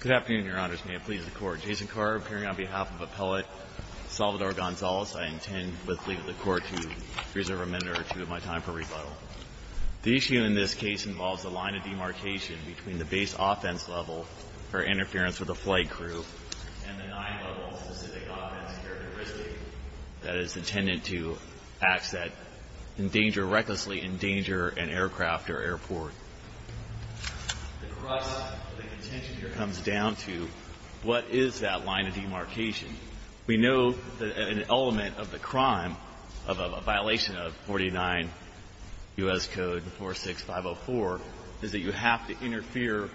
Good afternoon, your honors. May it please the court. Jason Carr, appearing on behalf of Appellate Salvador Gonzalez, I intend, with leave of the court, to reserve a minute or two of my time for rebuttal. The issue in this case involves the line of demarcation between the base offense level, or interference with a flight crew, and the nine-level specific offense characteristic that is intended to acts that endanger, recklessly endanger, an aircraft or airport. The crux of the contention here comes down to what is that line of demarcation? We know that an element of the crime, of a violation of 49 U.S. Code 46504, is that you have to interfere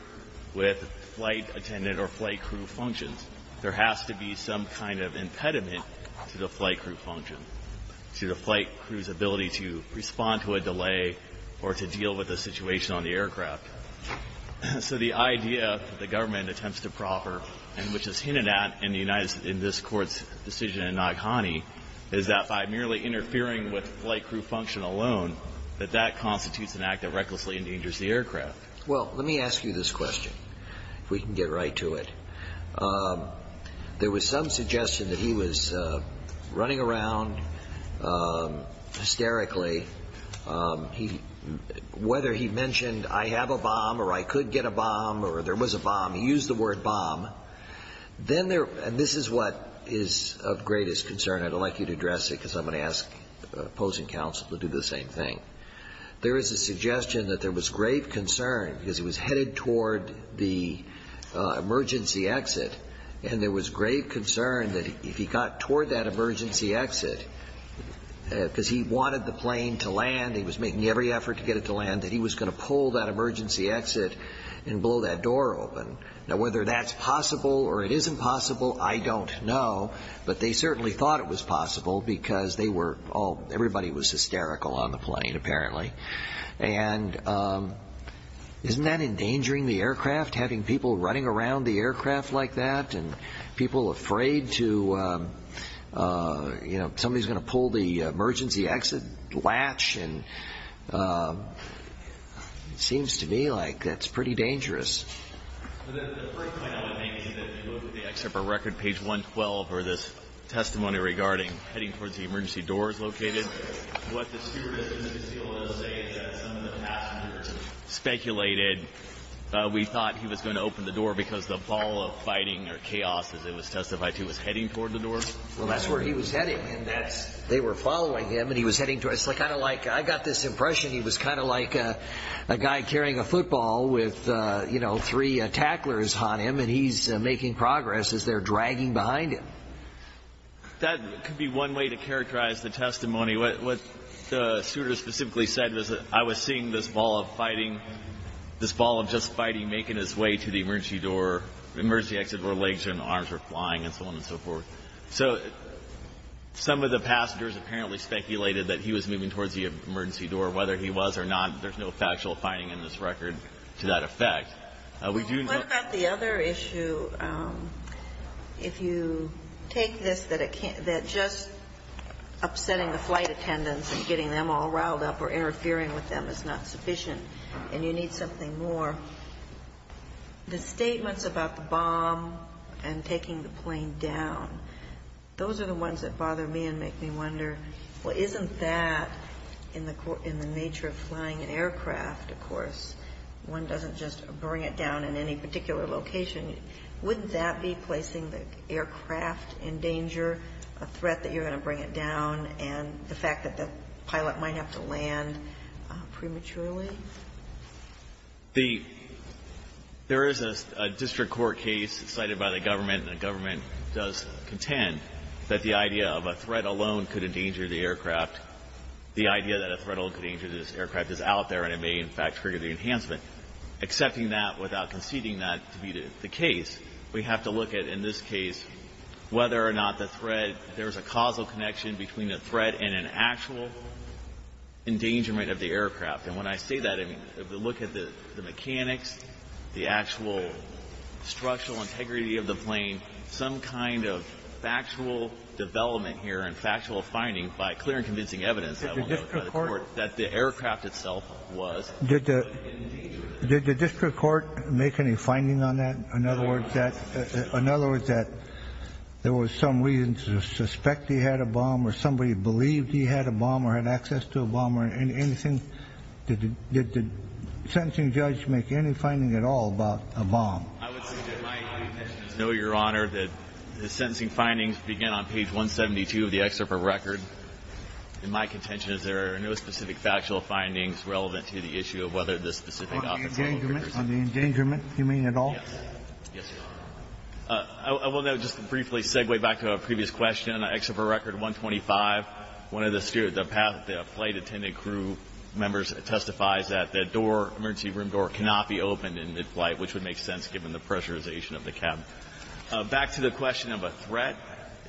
with flight attendant or flight crew functions. There has to be some kind of impediment to the flight crew function, to the flight crew's ability to respond to a delay or to deal with a situation on the aircraft. So the idea that the government attempts to proffer, and which is hinted at in the United States, in this Court's decision in Naghani, is that by merely interfering with flight crew function alone, that that constitutes an act that recklessly endangers the aircraft. Well, let me ask you this question, if we can get right to it. There was some suggestion that he was running around hysterically. Whether he mentioned, I have a bomb, or I could get a bomb, or there was a bomb, he used the word bomb. And this is what is of greatest concern. I'd like you to address it, because I'm going to ask opposing counsel to do the same thing. There is a suggestion that there was grave concern, because he was headed toward the emergency exit, and there was grave concern that if he got toward that emergency exit, because he wanted the plane to land, he was making every effort to get it to land, that he was going to pull that emergency exit and blow that door open. Now, whether that's possible or it isn't possible, I don't know. But they certainly thought it was possible, because everybody was hysterical on the plane, apparently. And isn't that endangering the aircraft, having people running around the aircraft like that, and people afraid somebody is going to pull the emergency exit latch? It seems to me like that's pretty dangerous. The first point I would make is that if you look at the excerpt from record, page 112, where there's testimony regarding heading towards the emergency doors located, what the stewardesses of the DCOA say is that some of the passengers speculated we thought he was going to open the door because the ball of fighting or chaos, as it was testified to, was heading toward the door. Well, that's where he was heading, and they were following him, and he was heading toward it. I got this impression he was kind of like a guy carrying a football with three tacklers on him, and he's making progress as they're dragging behind him. That could be one way to characterize the testimony. What the stewardess specifically said was that I was seeing this ball of fighting, this ball of just fighting making its way to the emergency door, emergency exit, where legs and arms were flying and so on and so forth. So some of the passengers apparently speculated that he was moving towards the emergency door. Whether he was or not, there's no factual finding in this record to that effect. We do know — What about the other issue? If you take this, that just upsetting the flight attendants and getting them all riled up or interfering with them is not sufficient and you need something more, the statements about the bomb and taking the plane down, those are the ones that bother me and make me wonder, well, isn't that in the nature of flying an aircraft, of course, one doesn't just bring it down in any particular location, wouldn't that be placing the aircraft in danger, a threat that you're going to bring it down, and the fact that the pilot might have to land prematurely? There is a district court case cited by the government, and the government does contend that the idea of a threat alone could endanger the aircraft, the idea that a threat alone could endanger this aircraft is out there and it may in fact trigger the enhancement. Accepting that without conceding that to be the case, we have to look at, in this case, whether or not the threat, there's a causal connection between the threat and an actual endangerment of the aircraft. And when I say that, I mean, look at the mechanics, the actual structural integrity of the plane, some kind of factual development here and factual finding by clear and convincing evidence that the aircraft itself was in danger. Did the district court make any finding on that? In other words, that there was some reason to suspect he had a bomb or somebody believed he had a bomb or had access to a bomb or anything? Did the sentencing judge make any finding at all about a bomb? I would say that my intention is no, Your Honor, that the sentencing findings begin on page 172 of the excerpt of record. And my contention is there are no specific factual findings relevant to the issue of whether this specific officer On the endangerment, you mean at all? Yes, Your Honor. I will now just briefly segue back to a previous question. In the excerpt of record 125, one of the flight attendant crew members testifies that the emergency room door cannot be opened in mid-flight, which would make sense given the pressurization of the cabin. Back to the question of a threat,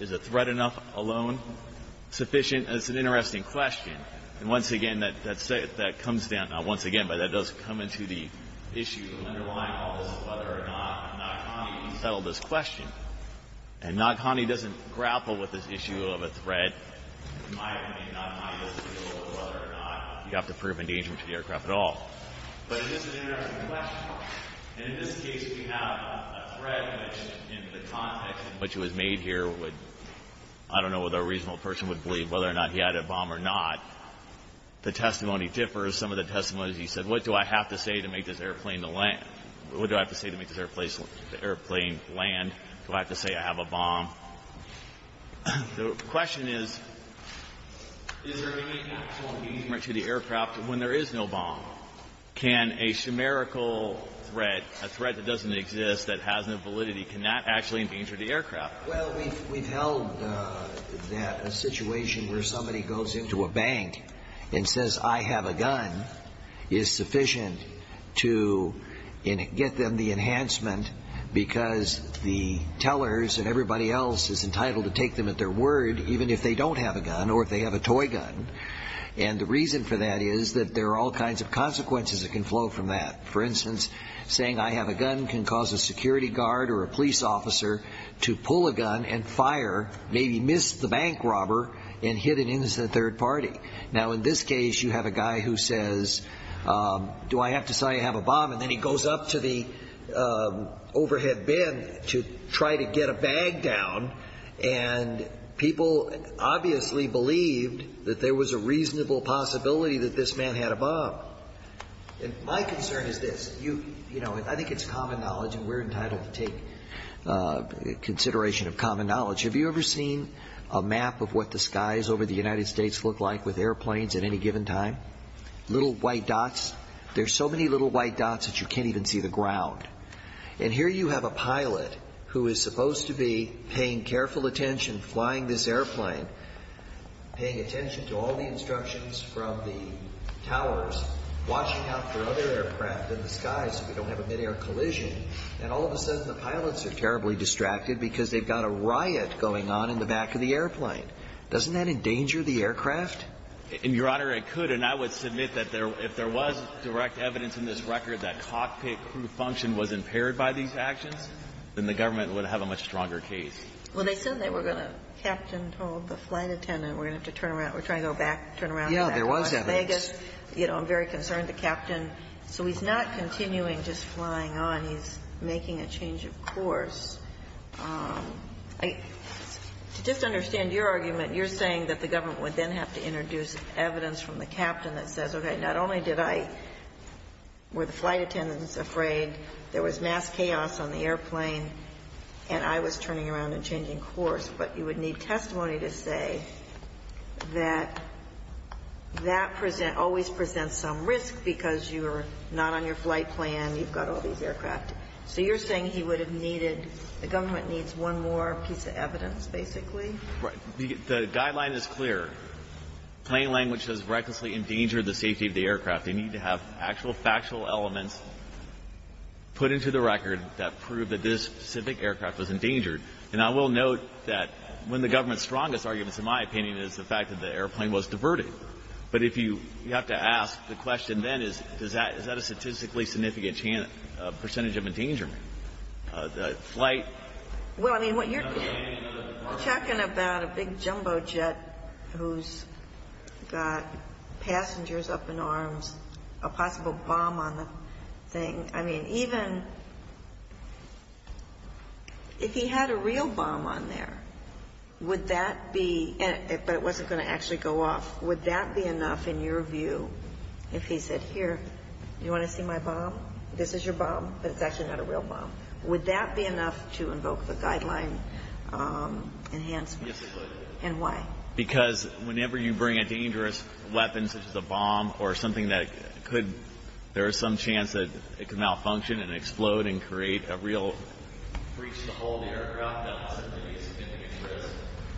is a threat enough alone sufficient? It's an interesting question. And once again, that comes down, not once again, but it does come into the issue of underlying all this, whether or not Nakani settled this question. And Nakani doesn't grapple with this issue of a threat. In my opinion, Nakani doesn't deal with whether or not you have to prove endangerment to the aircraft at all. But it is an interesting question. And in this case, if you have a threat in the context in which it was made here, I don't know whether a reasonable person would believe whether or not he had a bomb or not. The testimony differs. Some of the testimonies, he said, what do I have to say to make this airplane land? What do I have to say to make this airplane land? Do I have to say I have a bomb? The question is, is there any actual endangerment to the aircraft when there is no bomb? Can a numerical threat, a threat that doesn't exist, that has no validity, can that actually endanger the aircraft? Well, we've held that a situation where somebody goes into a bank and says, I have a gun is sufficient to get them the enhancement because the tellers and everybody else is entitled to take them at their word even if they don't have a gun or if they have a toy gun. And the reason for that is that there are all kinds of consequences that can flow from that. For instance, saying I have a gun can cause a security guard or a police officer to pull a gun and fire, maybe miss the bank robber and hit an innocent third party. Now, in this case, you have a guy who says, do I have to say I have a bomb? And then he goes up to the overhead bin to try to get a bag down. And people obviously believed that there was a reasonable possibility that this man had a bomb. My concern is this. You know, I think it's common knowledge and we're entitled to take consideration of common knowledge. Have you ever seen a map of what the skies over the United States look like with airplanes at any given time? Little white dots. There's so many little white dots that you can't even see the ground. And here you have a pilot who is supposed to be paying careful attention, flying this airplane, paying attention to all the instructions from the towers, watching out for other aircraft in the sky so we don't have a midair collision. And all of a sudden the pilots are terribly distracted because they've got a riot going on in the back of the airplane. Doesn't that endanger the aircraft? Your Honor, it could. And I would submit that if there was direct evidence in this record that cockpit crew function was impaired by these actions, then the government would have a much stronger case. Well, they said they were going to captain hold the flight attendant. We're going to have to turn around. We're trying to go back, turn around. Yeah, there was evidence. You know, I'm very concerned, the captain. So he's not continuing just flying on. He's making a change of course. To just understand your argument, you're saying that the government would then have to introduce evidence from the captain that says, okay, not only did I, were the flight attendants afraid, there was mass chaos on the airplane, and I was turning around and changing course, but you would need testimony to say that that present always presents some risk because you're not on your flight plan. You've got all these aircraft. So you're saying he would have needed, the government needs one more piece of evidence, basically? Right. The guideline is clear. Plain language does recklessly endanger the safety of the aircraft. They need to have actual factual elements put into the record that prove that this specific aircraft was endangered. And I will note that one of the government's strongest arguments, in my opinion, is the fact that the airplane was diverted. But if you have to ask the question then is, is that a statistically significant percentage of endangerment? The flight? Well, I mean, you're talking about a big jumbo jet who's got passengers up in arms, a possible bomb on the thing. I mean, even if he had a real bomb on there, would that be, but it wasn't going to actually go off, would that be enough in your view if he said, here, you want to see my bomb? This is your bomb, but it's actually not a real bomb. Would that be enough to invoke the guideline enhancement? Yes, it would. And why? Because whenever you bring a dangerous weapon, such as a bomb, or something that could, there is some chance that it could malfunction and explode and create a real breach to the whole of the aircraft, that's a significant risk.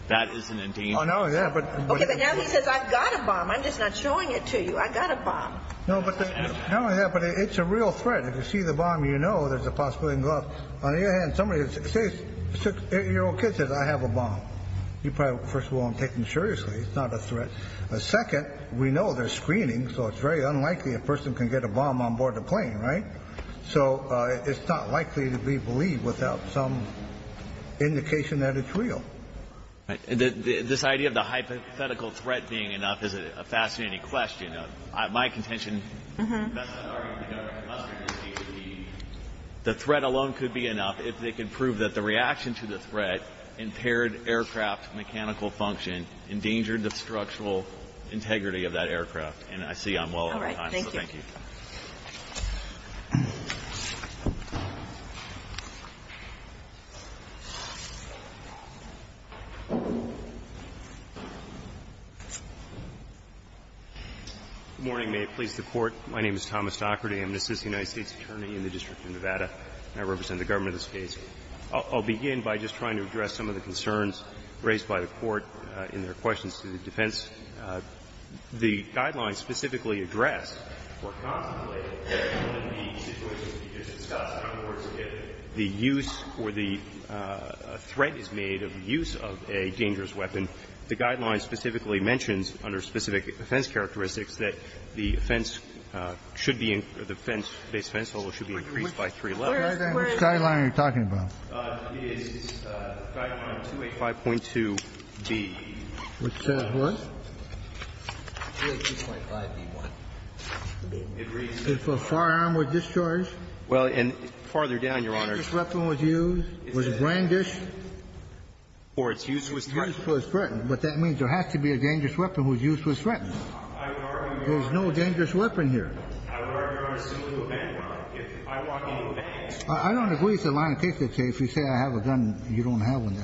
That is an endangerment. Oh, no, yeah, but. Okay. But now he says, I've got a bomb. I'm just not showing it to you. I've got a bomb. No, but the. No, yeah, but it's a real threat. If you see the bomb, you know there's a possibility it can go off. On the other hand, somebody, a 6-year-old kid says, I have a bomb. You probably, first of all, aren't taking it seriously. It's not a threat. Second, we know there's screening, so it's very unlikely a person can get a bomb on board a plane, right? So it's not likely to be believed without some indication that it's real. This idea of the hypothetical threat being enough is a fascinating question. My contention. The threat alone could be enough if they can prove that the reaction to the threat, impaired aircraft mechanical function, endangered the structural integrity of that aircraft. And I see I'm well on time, so thank you. Good morning. May it please the Court. My name is Thomas Docherty. I'm an assistant United States attorney in the District of Nevada, and I represent the Government of the States. I'll begin by just trying to address some of the concerns raised by the Court in their questions to the defense. The guideline specifically addressed or contemplated in the situation that you just discussed, in other words, if the use or the threat is made of the use of a dangerous weapon, the guideline specifically mentions under specific offense characteristics that the offense should be increased by three levels. Which guideline are you talking about? The guideline 285.2B. Which says what? 282.5B1. It reads that if a firearm was discharged. Well, and farther down, Your Honor. If a dangerous weapon was used, was grandish. Or its use was threatened. Use was threatened. But that means there has to be a dangerous weapon whose use was threatened. I would argue. There's no dangerous weapon here. I would argue you're assuming a bad one. If I walk into a bank. I don't agree with the line of case that says if you say I have a gun and you don't have one,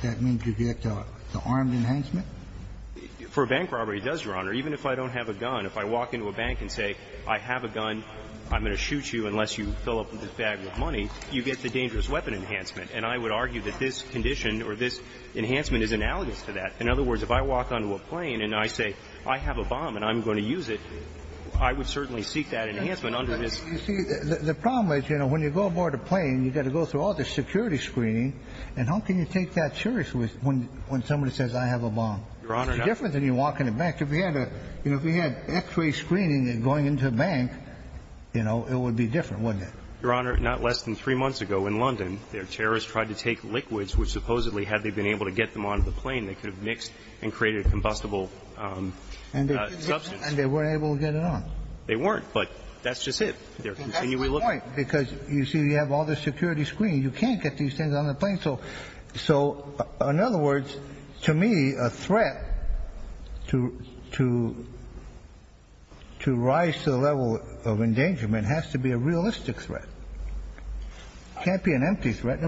that means you get the armed enhancement? For bank robbery, it does, Your Honor. Even if I don't have a gun, if I walk into a bank and say I have a gun, I'm going to shoot you unless you fill up this bag with money, you get the dangerous weapon enhancement. And I would argue that this condition or this enhancement is analogous to that. In other words, if I walk onto a plane and I say I have a bomb and I'm going to use it, I would certainly seek that enhancement under this. You see, the problem is, you know, when you go aboard a plane, you've got to go through all the security screening. And how can you take that seriously when somebody says I have a bomb? It's different than you walk into a bank. If you had X-ray screening going into a bank, you know, it would be different, wouldn't it? Your Honor, not less than three months ago in London, their terrorists tried to take liquids which supposedly, had they been able to get them onto the plane, they could have mixed and created a combustible substance. And they weren't able to get it on? They weren't. But that's just it. They're continually looking. And that's the point. Because, you see, you have all this security screening. You can't get these things on the plane. So in other words, to me, a threat to rise to the level of endangerment has to be a realistic threat. It can't be an empty threat.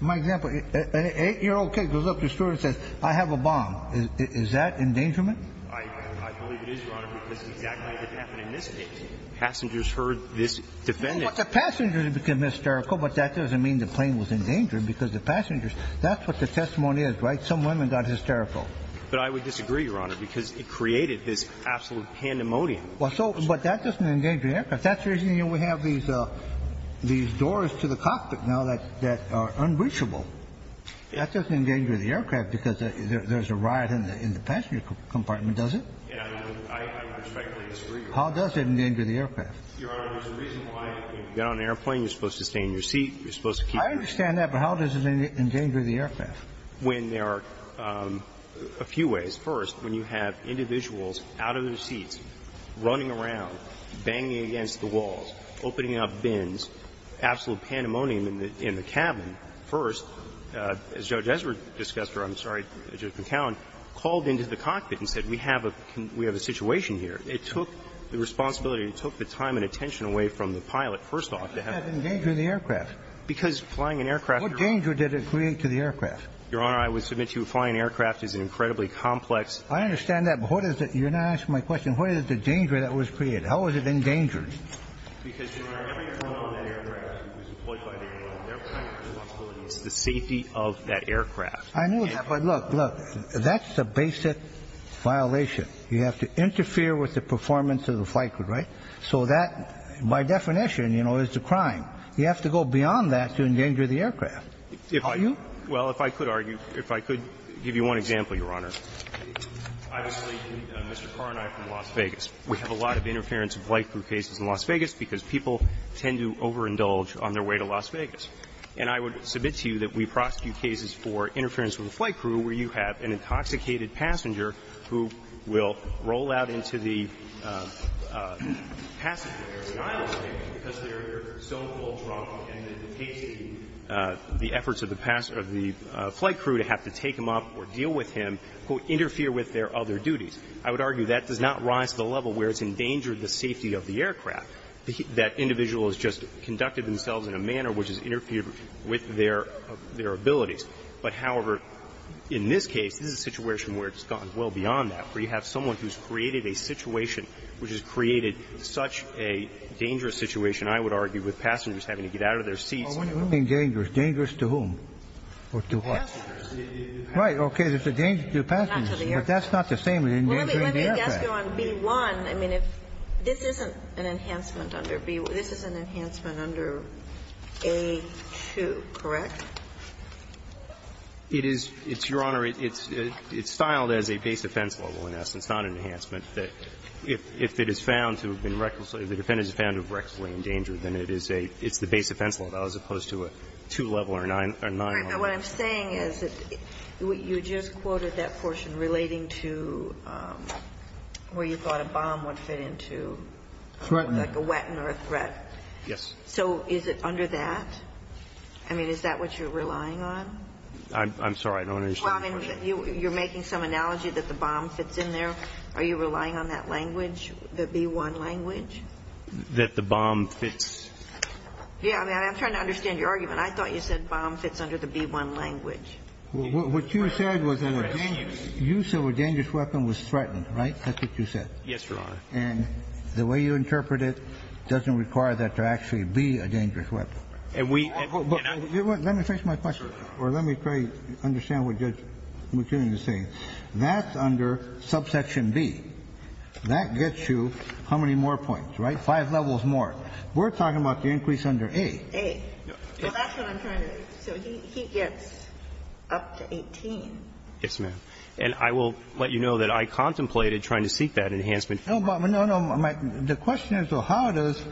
My example, an 8-year-old kid goes up to a store and says I have a bomb. Is that endangerment? I believe it is, Your Honor, because that's exactly what happened in this case. I mean, passengers heard this defendant. Well, the passengers became hysterical, but that doesn't mean the plane was endangered because the passengers. That's what the testimony is, right? Some women got hysterical. But I would disagree, Your Honor, because it created this absolute pandemonium. Well, so, but that doesn't endanger the aircraft. That's the reason, you know, we have these doors to the cockpit now that are unreachable. That doesn't endanger the aircraft because there's a riot in the passenger compartment, does it? Yeah. I respectfully disagree, Your Honor. How does it endanger the aircraft? Your Honor, there's a reason why when you get on an airplane, you're supposed to stay in your seat. You're supposed to keep your seat. I understand that, but how does it endanger the aircraft? When there are a few ways. First, when you have individuals out of their seats, running around, banging against the walls, opening up bins, absolute pandemonium in the cabin. First, as Judge Ezra discussed, or I'm sorry, Judge McAllen, called into the cockpit and said we have a situation here. It took the responsibility, it took the time and attention away from the pilot, first off. How does that endanger the aircraft? Because flying an aircraft. What danger did it create to the aircraft? Your Honor, I would submit to you flying an aircraft is an incredibly complex. I understand that, but what is it? You're not answering my question. What is the danger that was created? How was it endangered? Because, Your Honor, every aircraft that was deployed by the Air Force had a responsibility to the safety of that aircraft. I know that, but look, look, that's the basic violation. You have to interfere with the performance of the flight crew, right? So that, by definition, you know, is a crime. You have to go beyond that to endanger the aircraft. How do you? Well, if I could argue, if I could give you one example, Your Honor. Obviously, Mr. Carr and I are from Las Vegas. We have a lot of interference of flight crew cases in Las Vegas because people tend to overindulge on their way to Las Vegas. And I would submit to you that we prosecute cases for interference with a flight crew where you have an intoxicated passenger who will roll out into the passenger air silence thing because they're so full drunk and they're detasting the efforts of the flight crew to have to take him up or deal with him, quote, interfere with their other duties. I would argue that does not rise to the level where it's endangered the safety of the aircraft, that individual has just conducted themselves in a manner which has interfered with their abilities. But, however, in this case, this is a situation where it's gone well beyond that, where you have someone who's created a situation which has created such a dangerous situation, I would argue, with passengers having to get out of their seats. Dangerous to whom or to what? Passengers. Right. Okay. It's a danger to passengers. Not to the aircraft. But that's not the same as an endangering the aircraft. Well, let me ask you on B-1. I mean, if this isn't an enhancement under B-1. This is an enhancement under A-2, correct? It is. It's, Your Honor, it's styled as a base defense level, in essence, not an enhancement. If it is found to have been recklessly endangered, then it's the base defense level as opposed to a two-level or nine-level. What I'm saying is you just quoted that portion relating to where you thought a bomb would fit into. Threaten. Like a wetten or a threat. Yes. So is it under that? I mean, is that what you're relying on? I'm sorry. I don't understand your question. Well, I mean, you're making some analogy that the bomb fits in there. Are you relying on that language, the B-1 language? That the bomb fits. Yeah. I mean, I'm trying to understand your argument. I thought you said bomb fits under the B-1 language. What you said was the use of a dangerous weapon was threatening, right? That's what you said. Yes, Your Honor. And the way you interpret it doesn't require that to actually be a dangerous weapon. And we can understand that. Let me finish my question. Sure. Or let me try to understand what you're saying. That's under subsection B. That gets you how many more points, right? Five levels more. We're talking about the increase under A. A. That's what I'm trying to. So he gets up to 18. Yes, ma'am. And I will let you know that I contemplated trying to seek that enhancement. No, but no, no. The question is, though, how does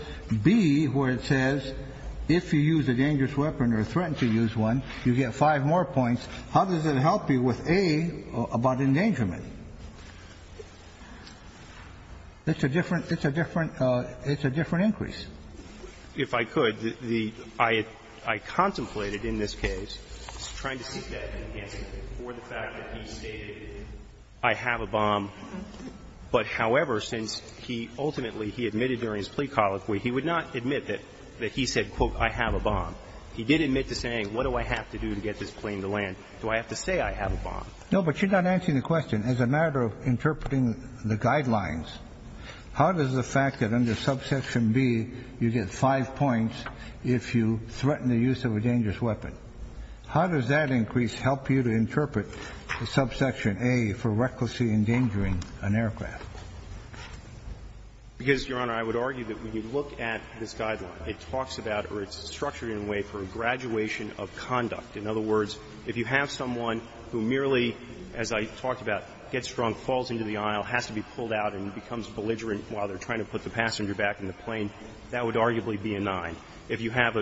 B, where it says if you use a dangerous weapon or threaten to use one, you get five more points, how does it help you with A about endangerment? It's a different – it's a different – it's a different increase. If I could, the – I contemplated in this case trying to seek that enhancement for the fact that he stated, I have a bomb. But, however, since he ultimately, he admitted during his plea colloquy, he would not admit that he said, quote, I have a bomb. He did admit to saying, what do I have to do to get this plane to land? Do I have to say I have a bomb? No, but you're not answering the question. As a matter of interpreting the guidelines, how does the fact that under subsection B you get five points if you threaten the use of a dangerous weapon, how does that increase help you to interpret the subsection A for recklessly endangering an aircraft? Because, Your Honor, I would argue that when you look at this guideline, it talks about or it's structured in a way for a graduation of conduct. In other words, if you have someone who merely, as I talked about, gets drunk, falls into the aisle, has to be pulled out and becomes belligerent while they're trying to put the passenger back in the plane, that would arguably be a nine. If you have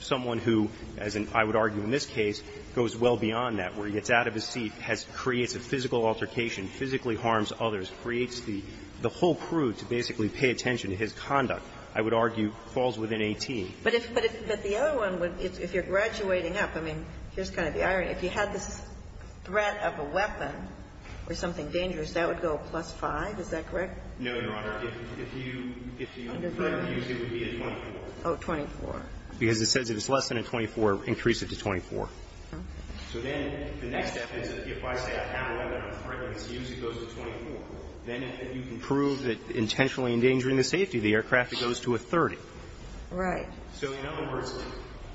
someone who, as I would argue in this case, goes well beyond that, where he gets out of his seat, has to create a physical altercation, physically harms others, creates the whole crew to basically pay attention to his conduct, I would argue falls within 18. But if the other one, if you're graduating up, I mean, here's kind of the irony. If you had this threat of a weapon or something dangerous, that would go plus 5, is that correct? No, Your Honor. If you use it, it would be a 12. Oh, 24. Because it says if it's less than a 24, increase it to 24. Okay. So then the next step is if I say I have a weapon, I'm threatening to use it, it goes to 24. Then if you can prove that intentionally endangering the safety of the aircraft, it goes to a 30. Right. So in other words,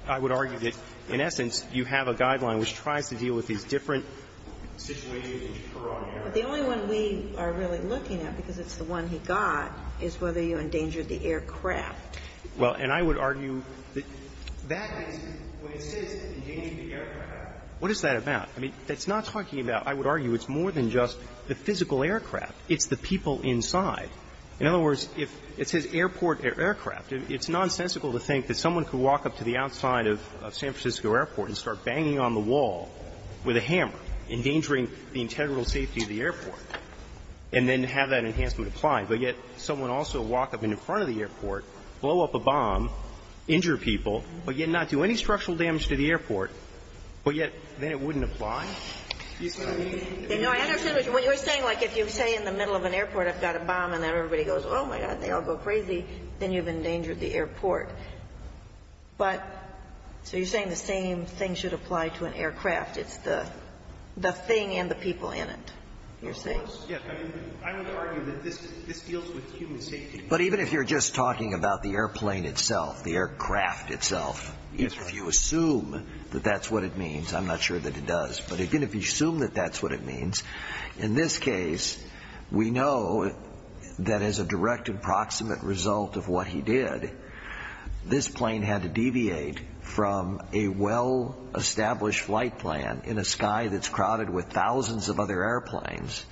I would argue that, in essence, you have a guideline which tries to deal with these different situations that occur on air. But the only one we are really looking at, because it's the one he got, is whether you endangered the aircraft. Well, and I would argue that that is what it says, endangering the aircraft. What is that about? I mean, it's not talking about, I would argue, it's more than just the physical aircraft. It's the people inside. In other words, if it says airport aircraft, it's nonsensical to think that someone could walk up to the outside of San Francisco Airport and start banging on the wall with a hammer, endangering the integral safety of the airport, and then have that enhancement applied. But yet someone also walk up in front of the airport, blow up a bomb, injure people, but yet not do any structural damage to the airport, but yet then it wouldn't apply? You see what I mean? No, I understand what you're saying. Like, if you say in the middle of an airport, I've got a bomb, and then everybody goes, oh, my God, they all go crazy, then you've endangered the airport. But so you're saying the same thing should apply to an aircraft. It's the thing and the people in it, you're saying. Yes, I would argue that this deals with human safety. But even if you're just talking about the airplane itself, the aircraft itself, if you assume that that's what it means, I'm not sure that it does. But again, if you assume that that's what it means, in this case, we know that as a direct and proximate result of what he did, this plane had to deviate from a well in the back of their airplanes,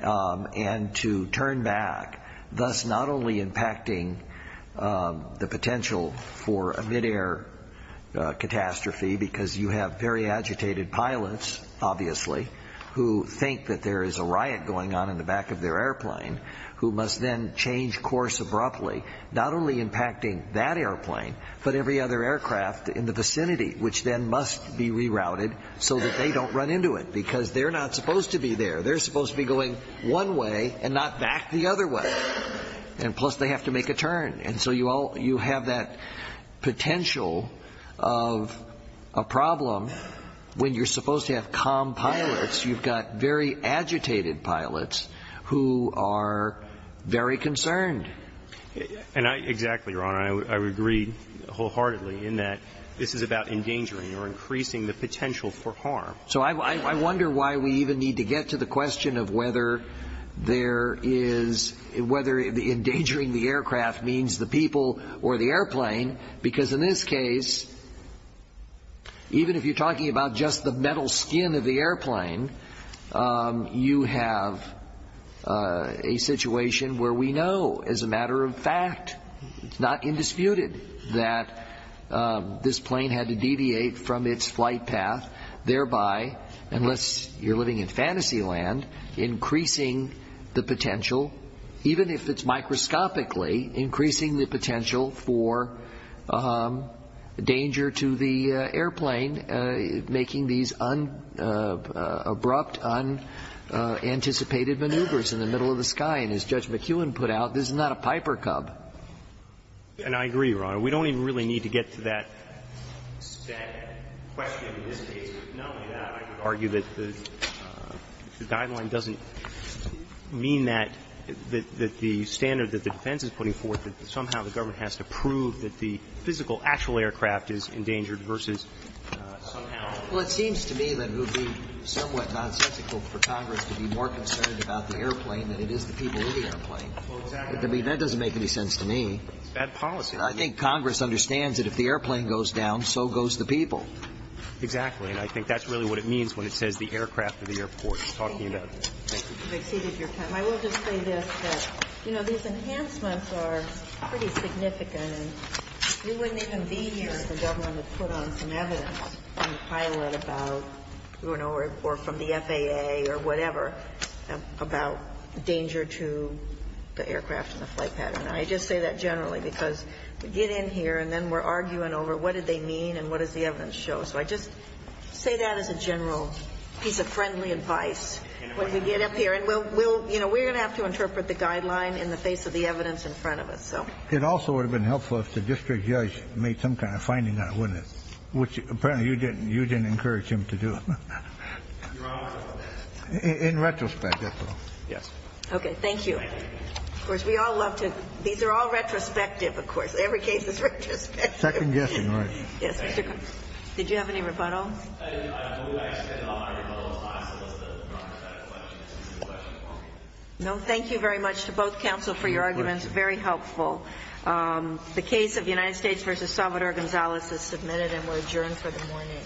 and to turn back, thus not only impacting the potential for a midair catastrophe, because you have very agitated pilots, obviously, who think that there is a riot going on in the back of their airplane, who must then change course abruptly, not only impacting that airplane, but every other aircraft in the vicinity, which then must be rerouted so that they don't run into it, because they're not supposed to be there. They're supposed to be going one way and not back the other way. And plus, they have to make a turn. And so you all you have that potential of a problem when you're supposed to have calm pilots. You've got very agitated pilots who are very concerned. And I – exactly, Your Honor. I would agree wholeheartedly in that this is about endangering or increasing the potential for harm. So I wonder why we even need to get to the question of whether there is – whether endangering the aircraft means the people or the airplane, because in this case, even if you're talking about just the metal skin of the airplane, you have a situation where we know as a matter of fact, it's not indisputed, that this plane had to deviate from its flight path, thereby, unless you're living in fantasy land, increasing the potential, even if it's microscopically, increasing the potential for danger to the airplane, making these abrupt, unanticipated maneuvers in the middle of the sky. And as Judge McEwen put out, this is not a Piper Cub. And I agree, Your Honor. We don't even really need to get to that question in this case. But knowing that, I could argue that the guideline doesn't mean that the standard that the defense is putting forth, that somehow the government has to prove that the physical, actual aircraft is endangered versus somehow – Well, it seems to me that it would be somewhat nonsensical for Congress to be more concerned about the airplane than it is the people or the airplane. Well, exactly. I mean, that doesn't make any sense to me. It's bad policy. And I think Congress understands that if the airplane goes down, so goes the people. Exactly. And I think that's really what it means when it says the aircraft or the airport. Thank you. You've exceeded your time. I will just say this, that, you know, these enhancements are pretty significant. And we wouldn't even be here if the government had put on some evidence on the pilot about, you know, or from the FAA or whatever about danger to the aircraft and the flight pattern. I just say that generally because we get in here and then we're arguing over what did they mean and what does the evidence show. So I just say that as a general piece of friendly advice when we get up here. And we'll – you know, we're going to have to interpret the guideline in the face of the evidence in front of us, so. It also would have been helpful if the district judge made some kind of finding on it, wouldn't it? Which, apparently, you didn't. You didn't encourage him to do it. In retrospect, that's all. Yes. Okay. Thank you. Of course, we all love to – these are all retrospective, of course. Every case is retrospective. Second guessing, right? Yes, Mr. – did you have any rebuttals? We actually had a lot of rebuttals. I suppose it doesn't matter if that's a question. It's a question for me. No, thank you very much to both counsel for your arguments. Very helpful. The case of United States v. Salvador Gonzalez is submitted and we're adjourned for the morning.